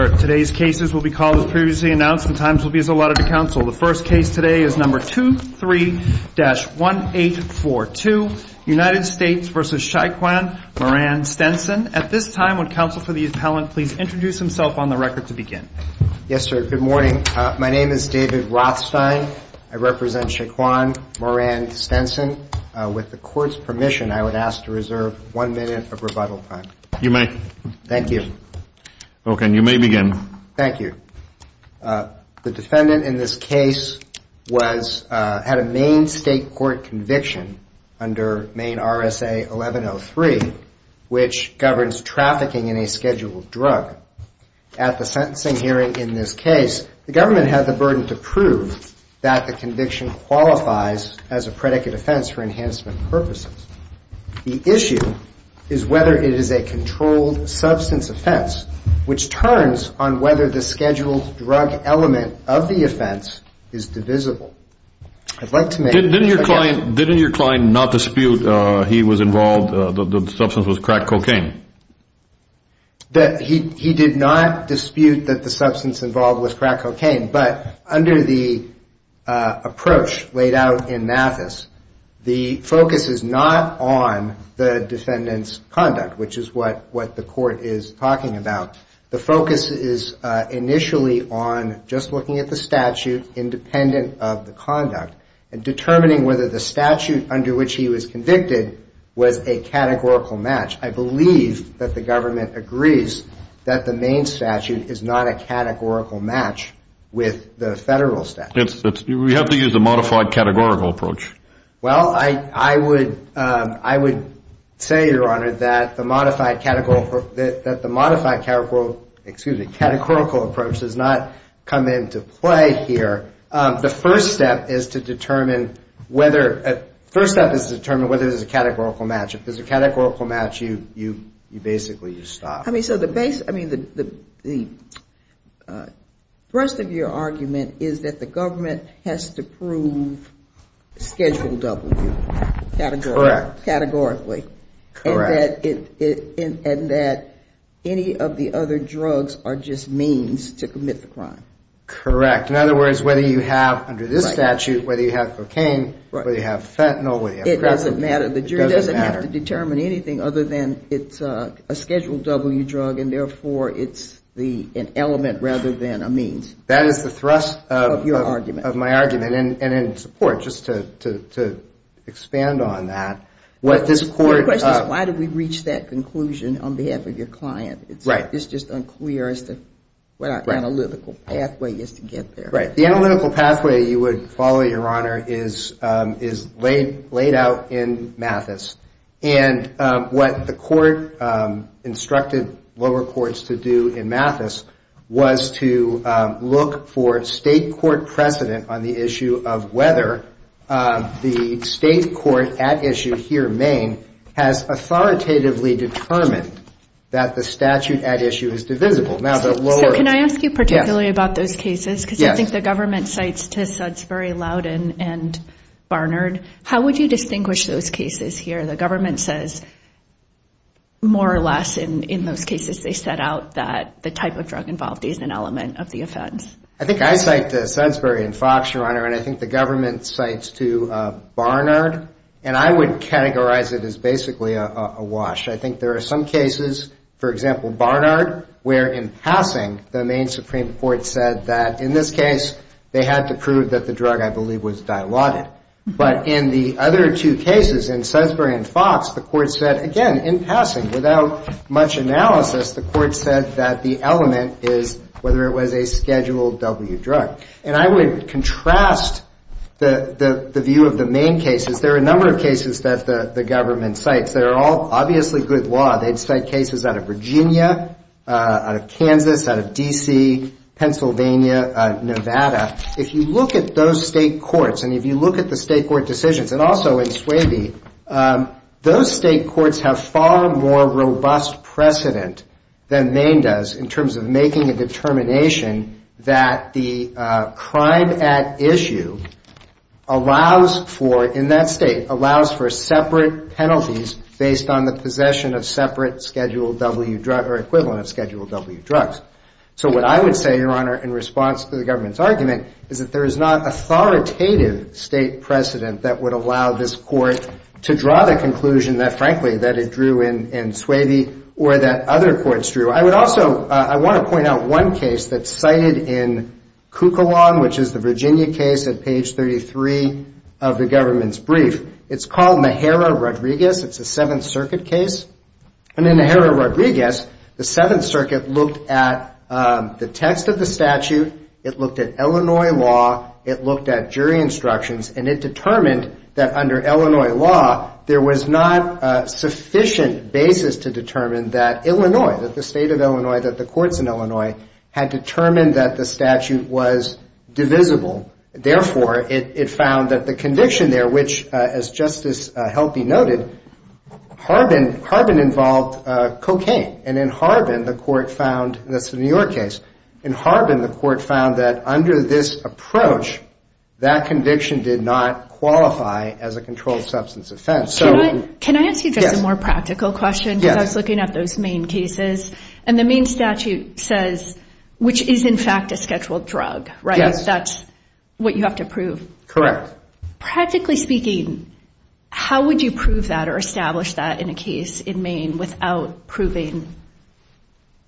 Yes, sir. Good morning. My name is David Rothstein. I represent Shaquan Moran-Stenson. With the court's permission, I would ask to reserve one minute of rebuttal time. You may. Thank you. Okay. And you may begin. Thank you. The defendant in this case had a Maine State Court conviction under Maine RSA 1103, which governs trafficking in a scheduled drug. At the sentencing hearing in this case, the government had the burden to prove that the conviction qualifies as a controlled substance offense, which turns on whether the scheduled drug element of the offense is divisible. I'd like to make... Didn't your client not dispute he was involved, the substance was crack cocaine? He did not dispute that the substance involved was crack cocaine, but under the approach laid out in Mathis, the focus is not on the defendant's conduct, which is what the court is talking about. The focus is initially on just looking at the statute independent of the conduct and determining whether the statute under which he was convicted was a categorical match. I believe that the government agrees that the Maine statute is not a categorical match with the federal statute. We have to use a modified categorical approach. Well, I would say, Your Honor, that the modified categorical approach does not come into play here. The first step is to determine whether it is a categorical match. If it's a categorical match, you basically just stop. The rest of your argument is that the government has to prove Schedule W categorically. And that any of the other drugs are just means to commit the crime. Correct. In other words, whether you have, under this statute, whether you have cocaine, whether you have fentanyl... It doesn't matter. The jury doesn't have to determine anything other than it's a Schedule W drug, and therefore, it's an element rather than a means. That is the thrust of my argument. And in support, just to expand on that, what this court... The question is, why did we reach that conclusion on behalf of your client? It's just unclear as to what our analytical pathway is to get there. Right. The analytical pathway, you would follow, Your Honor, is laid out in Mathis. And what the court instructed lower courts to do in Mathis was to look for state court precedent on the issue of whether the state court at issue here in Maine has authoritatively determined that the statute at issue is divisible. So can I ask you particularly about those cases? Because I think the government cites to Sudsbury, Loudoun, and Barnard. How would you distinguish those cases here? The government says, more or less, in those cases, they set out that the type of drug involved is an element of the offense. I think I cite to Sudsbury and Fox, Your Honor, and I think the government cites to Barnard. And I would categorize it as basically a wash. I think there are some cases, for example, Barnard, where in passing, the Maine Supreme Court said that in this case, they had to prove that the drug, I believe, was dilaudid. But in the other two cases, in Sudsbury and Fox, the court said, again, in passing, without much analysis, the court said that the element is whether it was a Schedule W drug. And I would contrast the view of the Maine cases. There are a number of cases that the government cites. They're all obviously good law. They'd cite cases out of Virginia, out of Kansas, out of D.C., Pennsylvania, Nevada. If you look at those state courts, and if you look at the state court decisions, and also in Swaby, those state courts have far more robust precedent than Maine does in terms of making a determination that the crime at issue allows for, in that state, allows for separate penalties based on the possession of separate Schedule W drug, or equivalent of Schedule W drugs. So what I would say, Your Honor, in response to the government's argument, is that there is not authoritative state precedent that would allow this court to draw the conclusion that, frankly, that it drew in Swaby, or that other courts drew. I would also, I want to point out one case that's cited in Kukalon, which is the Virginia case at page 33 of the government's brief. It's called Mejero-Rodriguez. It's a Seventh Circuit case. And in Mejero-Rodriguez, the Seventh Circuit looked at the text of the statute. It looked at Illinois law. It looked at jury instructions. And it determined that under Illinois law, there was not sufficient basis to determine that Illinois, that the state of Illinois, that the courts in Illinois, had determined that the statute was divisible. Therefore, it found that the conviction there, which, as Justice Helpy noted, Harbin involved cocaine. And in Harbin, the court found, and this is a New York case, in Harbin, the court found that under this approach, that conviction did not qualify as a controlled substance offense. Can I ask you just a more practical question? Because I was looking at those Maine cases. And the Maine statute says, which is, in fact, a scheduled drug, right? That's what you have to prove. Correct. Practically speaking, how would you prove that or establish that in a case in Maine without proving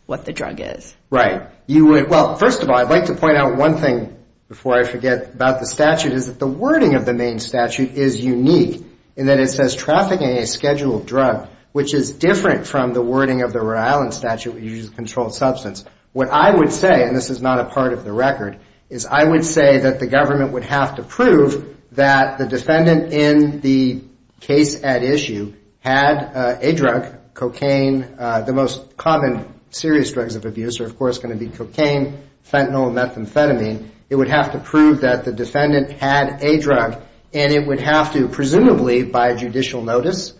what the drug is? Right. Well, first of all, I'd like to point out one thing before I forget about the statute, is that the wording of the Maine statute is unique, in that it says trafficking a scheduled drug, which is different from the wording of the Rhode Island statute, which is a controlled substance. What I would say, and this is not a part of the record, is I would say that the government would have to prove that the defendant in the case at issue had a drug, cocaine, the most common serious drugs of abuse are, of course, going to be cocaine, fentanyl, and methamphetamine. It would have to prove that the defendant had a drug, and it would have to, presumably by judicial notice,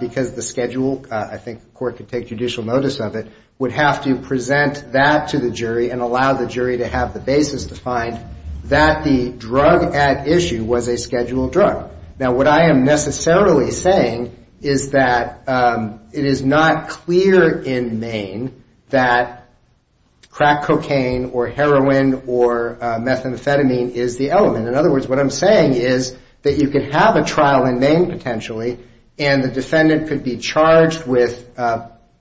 because the schedule, I think the court could take judicial notice of it, would have to present that to the jury and allow the jury to have the basis to find that the drug at issue was a scheduled drug. Now, what I am necessarily saying is that it is not clear in Maine that crack cocaine or heroin or methamphetamine is the element. In other words, what I'm saying is that you could have a trial in Maine, potentially, and the defendant could be charged with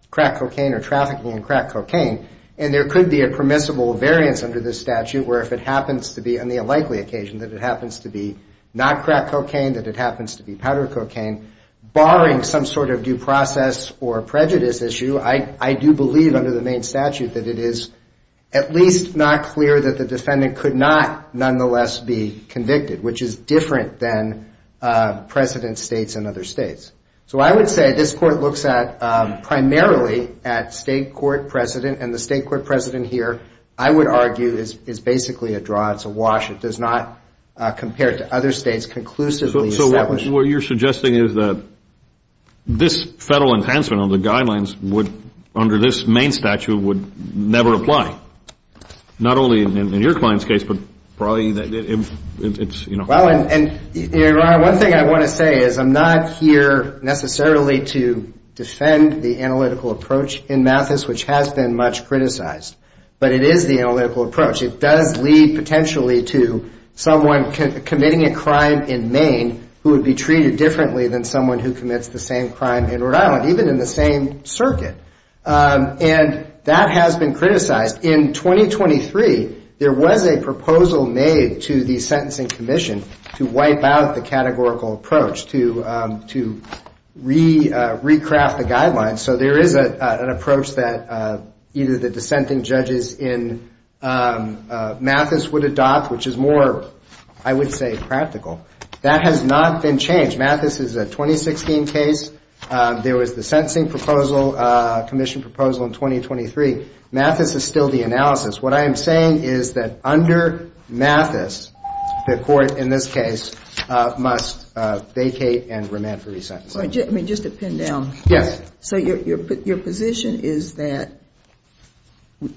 crack cocaine or trafficking in crack cocaine, and there could be a permissible variance under this statute where if it happens to be, on the unlikely occasion, that it happens to be not crack cocaine or methamphetamine, the defendant could be charged with trafficking in crack cocaine. That it happens to be powder cocaine, barring some sort of due process or prejudice issue, I do believe under the Maine statute that it is at least not clear that the defendant could not, nonetheless, be convicted, which is different than precedent states in other states. So I would say this court looks at, primarily, at state court precedent, and the state court precedent here, I would argue, is basically a draw. It's a wash. It does not, compared to other states, conclusively establish. Well, what you're suggesting is that this federal enhancement of the guidelines would, under this Maine statute, would never apply, not only in your client's case, but probably it's, you know. Well, and one thing I want to say is I'm not here, necessarily, to defend the analytical approach in Mathis, which has been much criticized, but it is the analytical approach. It does lead, potentially, to someone committing a crime in Maine who would be treated differently than someone who commits the same crime in Rhode Island, even in the same circuit, and that has been criticized. In 2023, there was a proposal made to the Sentencing Commission to wipe out the categorical approach, to recraft the guidelines. So there is an approach that either the dissenting judges in Mathis would adopt, which is more, I would say, practical. That has not been changed. Mathis is a 2016 case. There was the sentencing proposal, commission proposal, in 2023. Mathis is still the analysis. What I am saying is that under Mathis, the court, in this case, must vacate and remand for resentencing. Just to pin down, so your position is that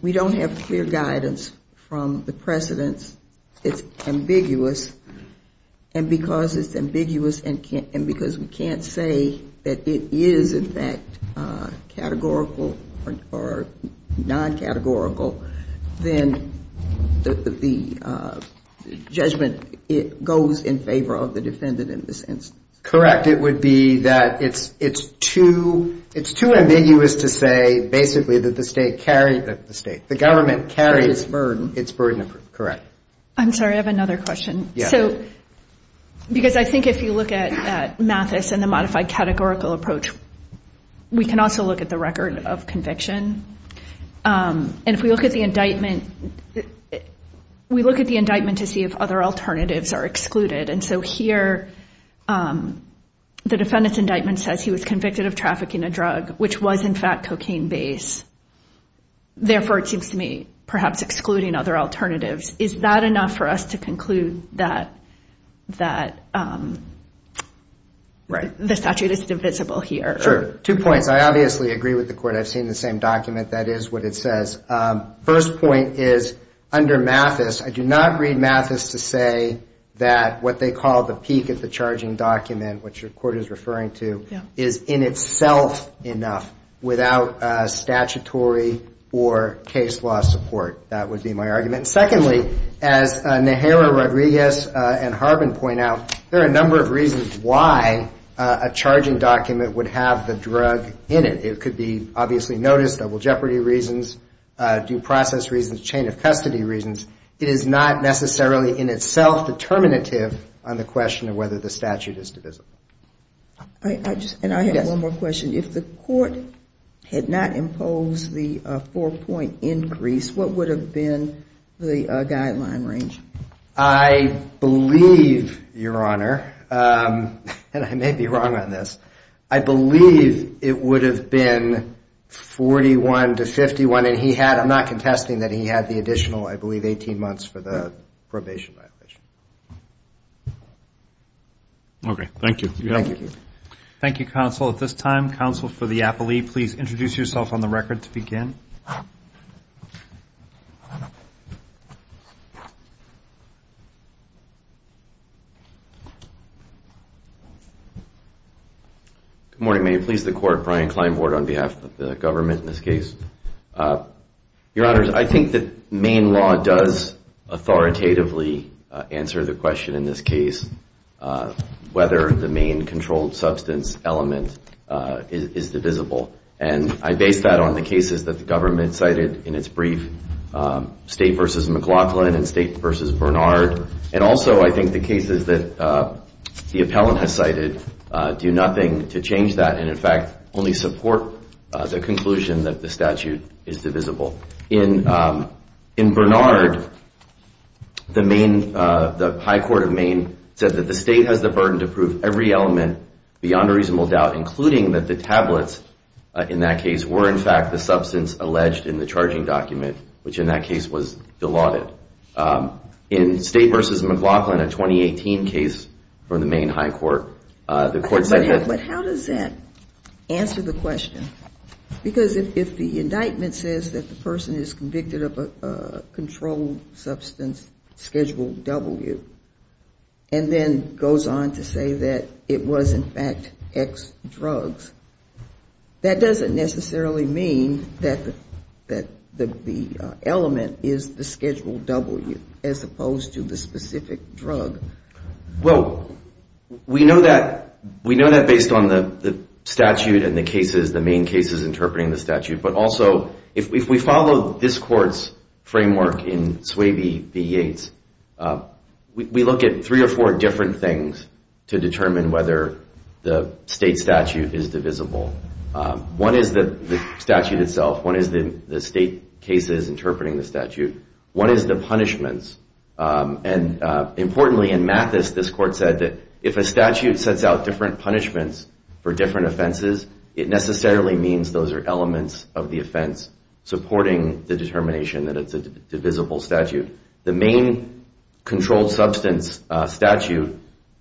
we don't have clear guidance from the precedents. It's ambiguous, and because it's ambiguous and because we can't say that it is, in fact, categorical or non-categorical, then the judgment goes in favor of the defendant in this instance. Correct. It would be that it's too ambiguous to say, basically, that the state, the government, carries its burden. I'm sorry, I have another question. Because I think if you look at Mathis and the modified categorical approach, we can also look at the record of conviction. If we look at the indictment, we look at the indictment to see if other alternatives are excluded. Here, the defendant's indictment says he was convicted of trafficking a drug, which was, in fact, cocaine-based. Therefore, it seems to me, perhaps excluding other alternatives, is that enough for us to conclude that the statute is divisible here? Sure. Two points. I obviously agree with the court. I've seen the same document. That is what it says. First point is, under Mathis, I do not read Mathis to say that what they call the peak of the charging document, which your court is referring to, is in itself enough without statutory or case law support. That would be my argument. And secondly, as Nehara, Rodriguez, and Harbin point out, there are a number of reasons why a charging document would have the drug in it. It could be, obviously, notice, double jeopardy reasons, due process reasons, chain of custody reasons. It is not necessarily in itself determinative on the question of whether the statute is divisible. And I have one more question. If the court had not imposed the four-point increase, what would have been the guideline range? I believe, Your Honor, and I may be wrong on this, I believe it would have been 41 to 51. And I'm not contesting that he had the additional, I believe, 18 months for the probation violation. Okay. Thank you. Thank you, counsel. At this time, counsel for the appellee, please introduce yourself on the record to begin. Good morning. May it please the court, Brian Kleinbord on behalf of the government in this case. Your Honors, I think that Maine law does authoritatively answer the question in this case, whether the Maine controlled substance element is divisible. And I base that on the cases that the government cited in its brief, State v. McLaughlin and State v. Bernard. And also, I think the cases that the appellant has cited do nothing to change that and, in fact, only support the conclusion that the statute is divisible. In Bernard, the Maine, the high court of Maine said that the state has the burden to prove every element beyond a reasonable doubt, including that the tablets in that case were, in fact, the substance alleged in the charging document, which in that case was dilaudid. In State v. McLaughlin, a 2018 case from the Maine high court, the court said that... The indictment says that the person is convicted of a controlled substance, Schedule W, and then goes on to say that it was, in fact, X drugs. That doesn't necessarily mean that the element is the Schedule W, as opposed to the specific drug. Well, we know that based on the statute and the cases, the Maine cases interpreting the statute. So if we follow this court's framework in Swaybe v. Yates, we look at three or four different things to determine whether the state statute is divisible. One is the statute itself. One is the state cases interpreting the statute. One is the punishments. And importantly, in Mathis, this court said that if a statute sets out different punishments for different offenses, it necessarily means those are elements of the offense supporting the determination that it's a divisible statute. The Maine controlled substance statute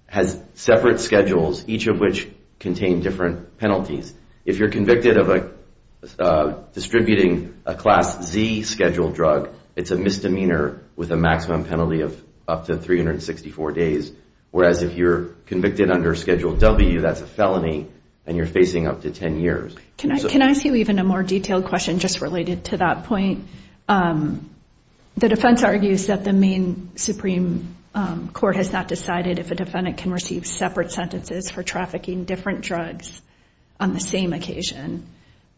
has separate schedules, each of which contain different penalties. If you're convicted of distributing a Class Z scheduled drug, it's a misdemeanor with a maximum penalty of up to 364 days. Whereas if you're convicted under Schedule W, that's a felony, and you're facing up to 10 years. Can I ask you even a more detailed question just related to that point? The defense argues that the Maine Supreme Court has not decided if a defendant can receive separate sentences for trafficking different drugs on the same occasion,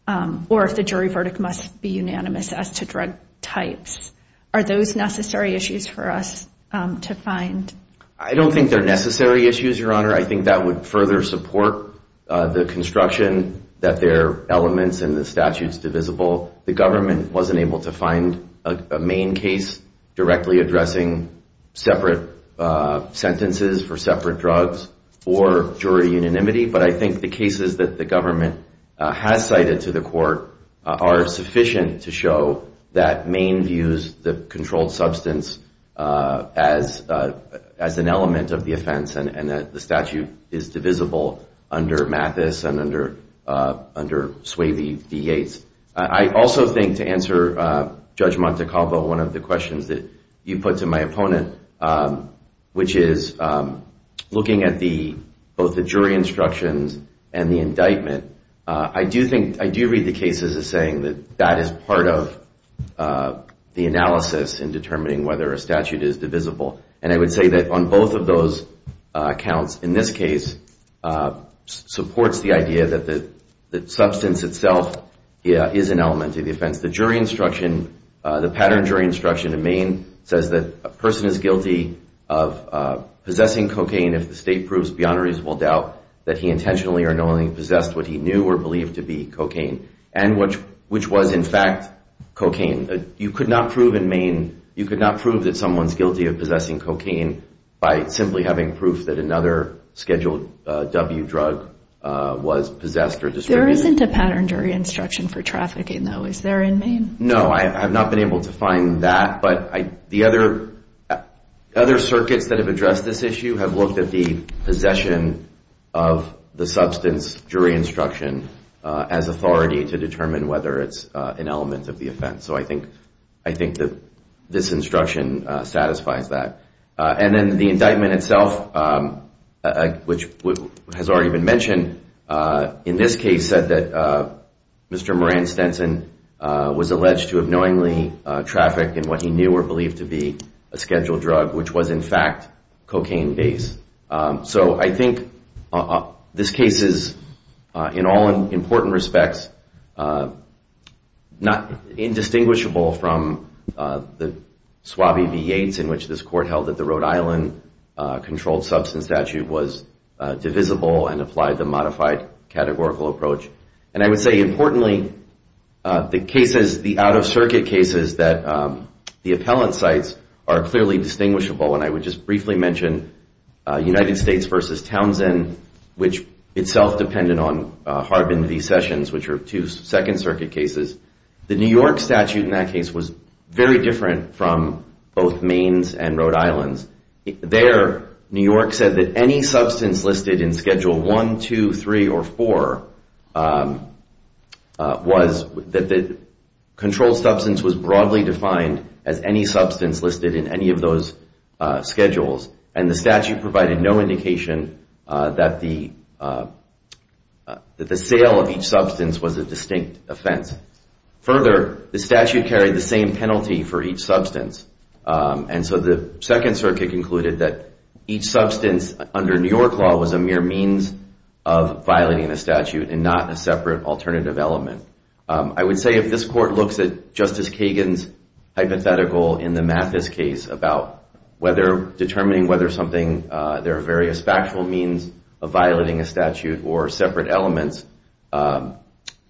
or if the jury verdict must be unanimous as to drug types. Are those necessary issues for us to find? I don't think they're necessary issues, Your Honor. I think that would further support the construction that they're elements and the statute's divisible. The government wasn't able to find a Maine case directly addressing separate sentences for separate drugs or jury unanimity. But I think the cases that the government has cited to the court are sufficient to show that Maine views the controlled substance as an element of the offense and that the statute is divisible under Mathis and under Swavey v. Yates. I also think to answer Judge Montecalvo, one of the questions that you put to my opponent, which is looking at both the jury instructions and the indictment, I do read the cases as saying that that is part of the analysis in determining whether a statute is divisible. And I would say that on both of those accounts, in this case, supports the idea that the substance itself is an element of the offense. The jury instruction, the pattern jury instruction in Maine says that a person is guilty of possessing cocaine if the state proves beyond a reasonable doubt that he intentionally or knowingly possessed what he knew or believed to be cocaine and which was, in fact, cocaine. You could not prove in Maine, you could not prove that someone's guilty of possessing cocaine by simply having proof that another scheduled W drug was possessed or distributed. There isn't a pattern jury instruction for trafficking, though. Is there in Maine? No, I have not been able to find that. But the other circuits that have addressed this issue have looked at the possession of the substance jury instruction as well, and I think that this instruction satisfies that. And then the indictment itself, which has already been mentioned, in this case said that Mr. Moran Stenson was alleged to have knowingly trafficked in what he knew or believed to be a scheduled drug, which was, in fact, cocaine-based. So I think this case is, in all important respects, indistinguishable from the other cases. It's indistinguishable from the Suave v. Yates in which this court held that the Rhode Island controlled substance statute was divisible and applied the modified categorical approach. And I would say, importantly, the cases, the out-of-circuit cases that the appellant cites are clearly distinguishable, and I would just briefly mention United States v. Townsend, which itself depended on Harbin v. Sessions, which are two different cases, was very different from both Maine's and Rhode Island's. There, New York said that any substance listed in Schedule I, II, III, or IV was, that the controlled substance was broadly defined as any substance listed in any of those schedules, and the statute provided no indication that the sale of each substance was a distinct offense. Further, the statute carried the same penalty for each substance, and so the Second Circuit concluded that each substance under New York law was a mere means of violating the statute and not a separate alternative element. I would say if this court looks at Justice Kagan's hypothetical in the Mathis case about determining whether something, there are various factual means of violating a statute or separate elements,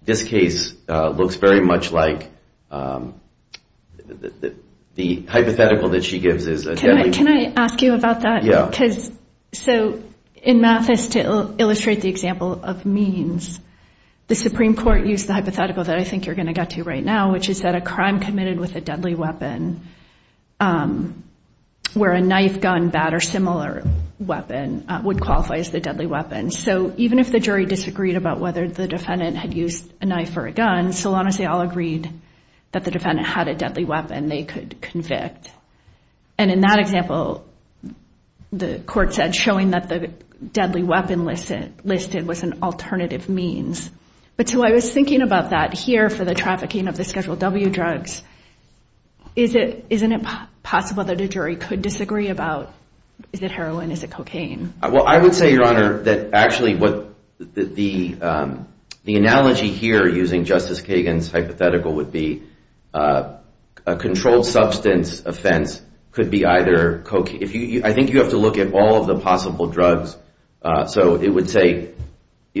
this case looks very much like the hypothetical that she gives is a deadly weapon. Can I ask you about that? Yeah. So in Mathis, to illustrate the example of means, the Supreme Court used the hypothetical that I think you're going to get to right now, which is that a crime committed with a deadly weapon where a knife, gun, bat, or similar weapon would qualify as the deadly weapon. So even if the jury disagreed about whether the defendant had used a knife or a gun, so long as they all agreed that the defendant had a deadly weapon, they could convict. And in that example, the court said showing that the deadly weapon listed was an alternative means. But so I was thinking about that here for the trafficking of the Schedule W drugs. Isn't it possible that a jury could disagree about is it heroin, is it cocaine? Well, I would say, Your Honor, that actually the analogy here using Justice Kagan's hypothetical would be a controlled substance offense could be either cocaine. I think you have to look at all of the possible drugs.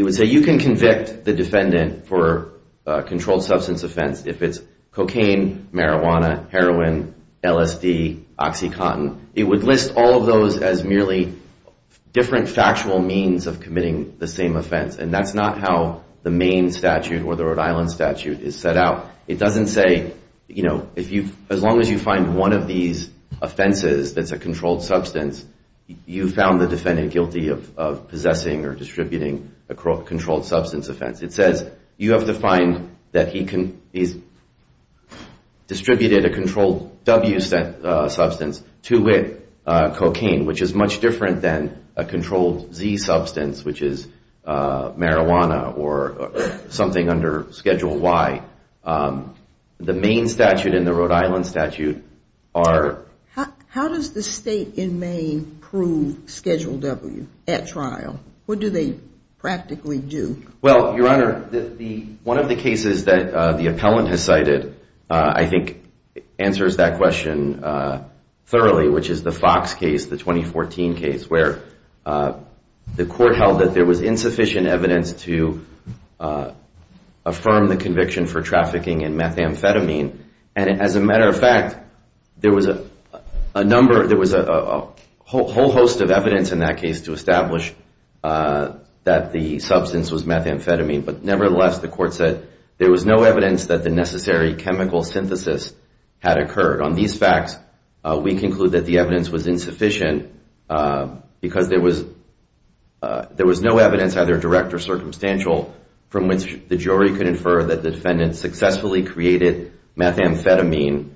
If the defendant for a controlled substance offense, if it's cocaine, marijuana, heroin, LSD, OxyContin, it would list all of those as merely different factual means of committing the same offense. And that's not how the Maine statute or the Rhode Island statute is set out. It doesn't say as long as you find one of these offenses that's a controlled substance, you found the defendant guilty of possessing or distributing a controlled substance offense. It says you have to find that he distributed a controlled W substance to cocaine, which is much different than a controlled Z substance, which is marijuana or something under Schedule Y. The Maine statute and the Rhode Island statute are... are not going to be proven Schedule W at trial. What do they practically do? Well, Your Honor, one of the cases that the appellant has cited I think answers that question thoroughly, which is the Fox case, the 2014 case, where the court held that there was insufficient evidence to affirm the conviction for trafficking in methamphetamine. And as a matter of fact, there was a number, there was a whole host of evidence in that case to establish that the substance was methamphetamine. But nevertheless, the court said there was no evidence that the necessary chemical synthesis had occurred. On these facts, we conclude that the evidence was insufficient because there was no evidence either direct or circumstantial from which the jury could infer that the defendant successfully created methamphetamine.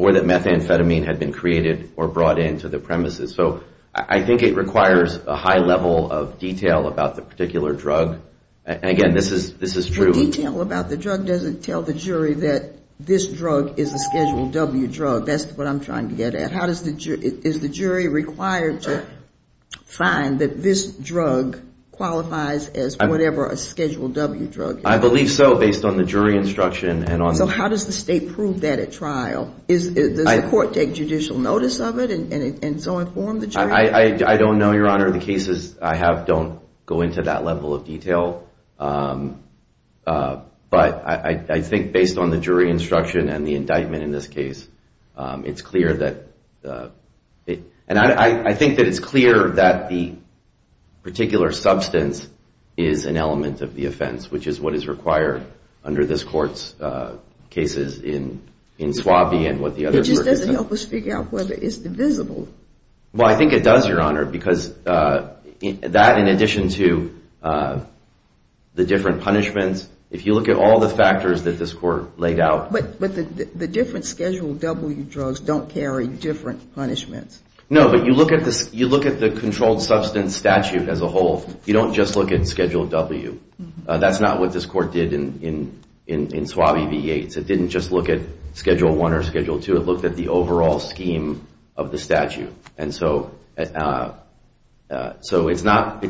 Or that methamphetamine had been created or brought into the premises. So I think it requires a high level of detail about the particular drug. And again, this is true. The detail about the drug doesn't tell the jury that this drug is a Schedule W drug. That's what I'm trying to get at. Is the jury required to find that this drug qualifies as whatever a Schedule W drug is? I believe so, based on the jury instruction. So how does the state prove that at trial? Does the court take judicial notice of it and so inform the jury? I don't know, Your Honor. The cases I have don't go into that level of detail. But I think based on the jury instruction and the indictment in this case, it's clear that... It's clear that the particular substance is an element of the offense, which is what is required under this court's cases in Suave and what the other... It just doesn't help us figure out whether it's divisible. Well, I think it does, Your Honor, because that in addition to the different punishments, if you look at all the factors that this court laid out... But the different Schedule W drugs don't carry different punishments. No, but you look at the controlled substance statute as a whole, you don't just look at Schedule W. That's not what this court did in Suave v. Yates. It didn't just look at Schedule I or Schedule II. It looked at the overall scheme of the statute. So it's not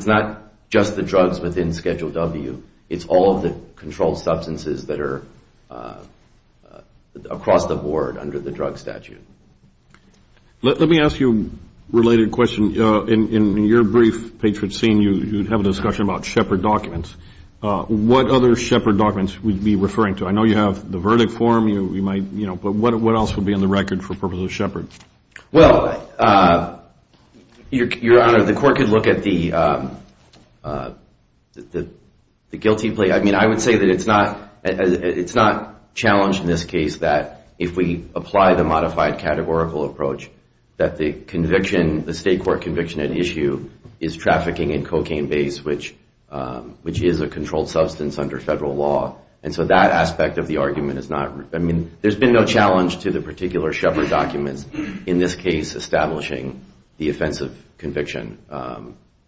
just the drugs within Schedule W. It's all of the controlled substances that are across the board under the drug statute. Let me ask you a related question. In your brief patron scene, you have a discussion about Shepard documents. What other Shepard documents would you be referring to? I know you have the verdict form, but what else would be on the record for purposes of Shepard? Well, Your Honor, the court could look at the guilty plea. I would say that it's not challenged in this case that if we apply the modified categorical approach, that the state court conviction at issue is trafficking in cocaine base, which is a controlled substance under federal law. There's been no challenge to the particular Shepard documents in this case establishing the offensive conviction.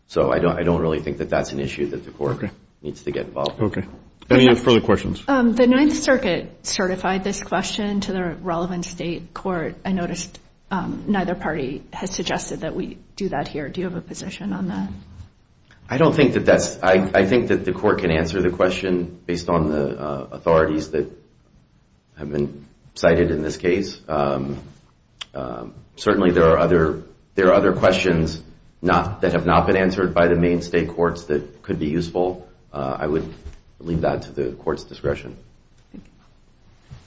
So I don't really think that that's an issue that the court needs to get involved with. The Ninth Circuit certified this question to the relevant state court. I noticed neither party has suggested that we do that here. Do you have a position on that? I think that the court can answer the question based on the authorities that have been cited in this case. Certainly there are other questions that have not been answered by the main state courts that could be useful. I would leave that to the court's discretion.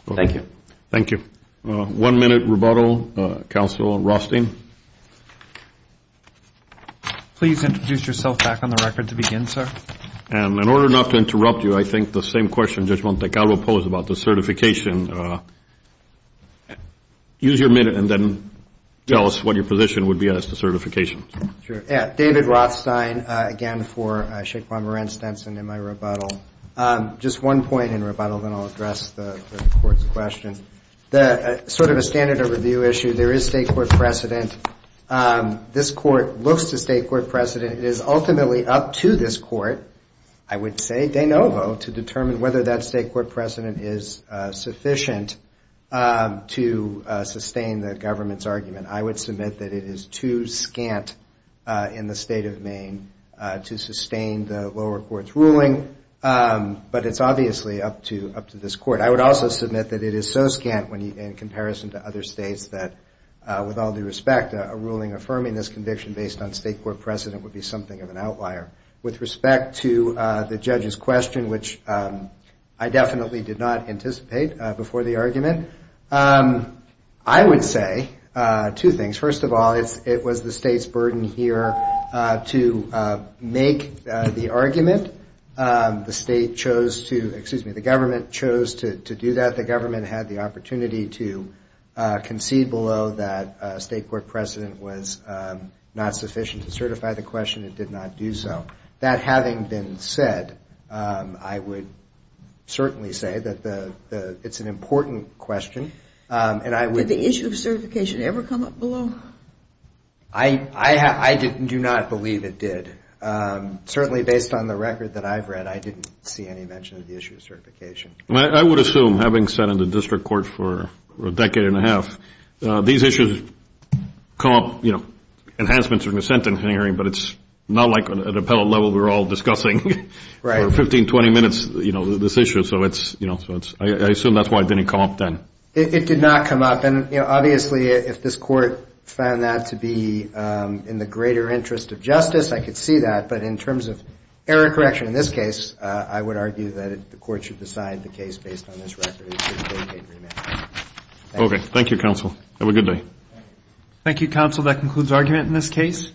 Thank you. One-minute rebuttal, counsel Rothstein. Please introduce yourself back on the record to begin, sir. And in order not to interrupt you, I think the same question Judge Montecarlo posed about the certification, use your minute and then tell us what your position would be as to certification. David Rothstein, again, for Sheikh Mohammed Ren Stenson in my rebuttal. Just one point in rebuttal, then I'll address the court's question. Sort of a standard of review issue, there is state court precedent. This court looks to state court precedent. It is ultimately up to this court, I would say de novo, to determine whether that state court precedent is sufficient to sustain the government's argument. I would submit that it is too scant in the state of Maine to sustain the lower court's ruling. But it's obviously up to this court. I would also submit that it is so scant in comparison to other states that with all due respect, a ruling affirming this conviction based on state court precedent would be something of an outlier. With respect to the judge's question, which I definitely did not anticipate before the argument, I would say two things. First of all, it was the state's burden here to make the argument. The state chose to, excuse me, the government chose to do that. The government had the opportunity to concede below that state court precedent was not sufficient to certify the question. It did not do so. That having been said, I would certainly say that it's an important question. Did the issue of certification ever come up below? I do not believe it did. Certainly based on the record that I've read, I didn't see any mention of the issue of certification. I would assume, having sat in the district court for a decade and a half, these issues come up. Enhancements in the sentencing hearing, but it's not like at appellate level we're all discussing for 15, 20 minutes this issue. I assume that's why it didn't come up then. It did not come up. Obviously, if this court found that to be in the greater interest of justice, I could see that. But in terms of error correction in this case, I would argue that the court should decide the case based on this record. Okay. Thank you, counsel. Have a good day.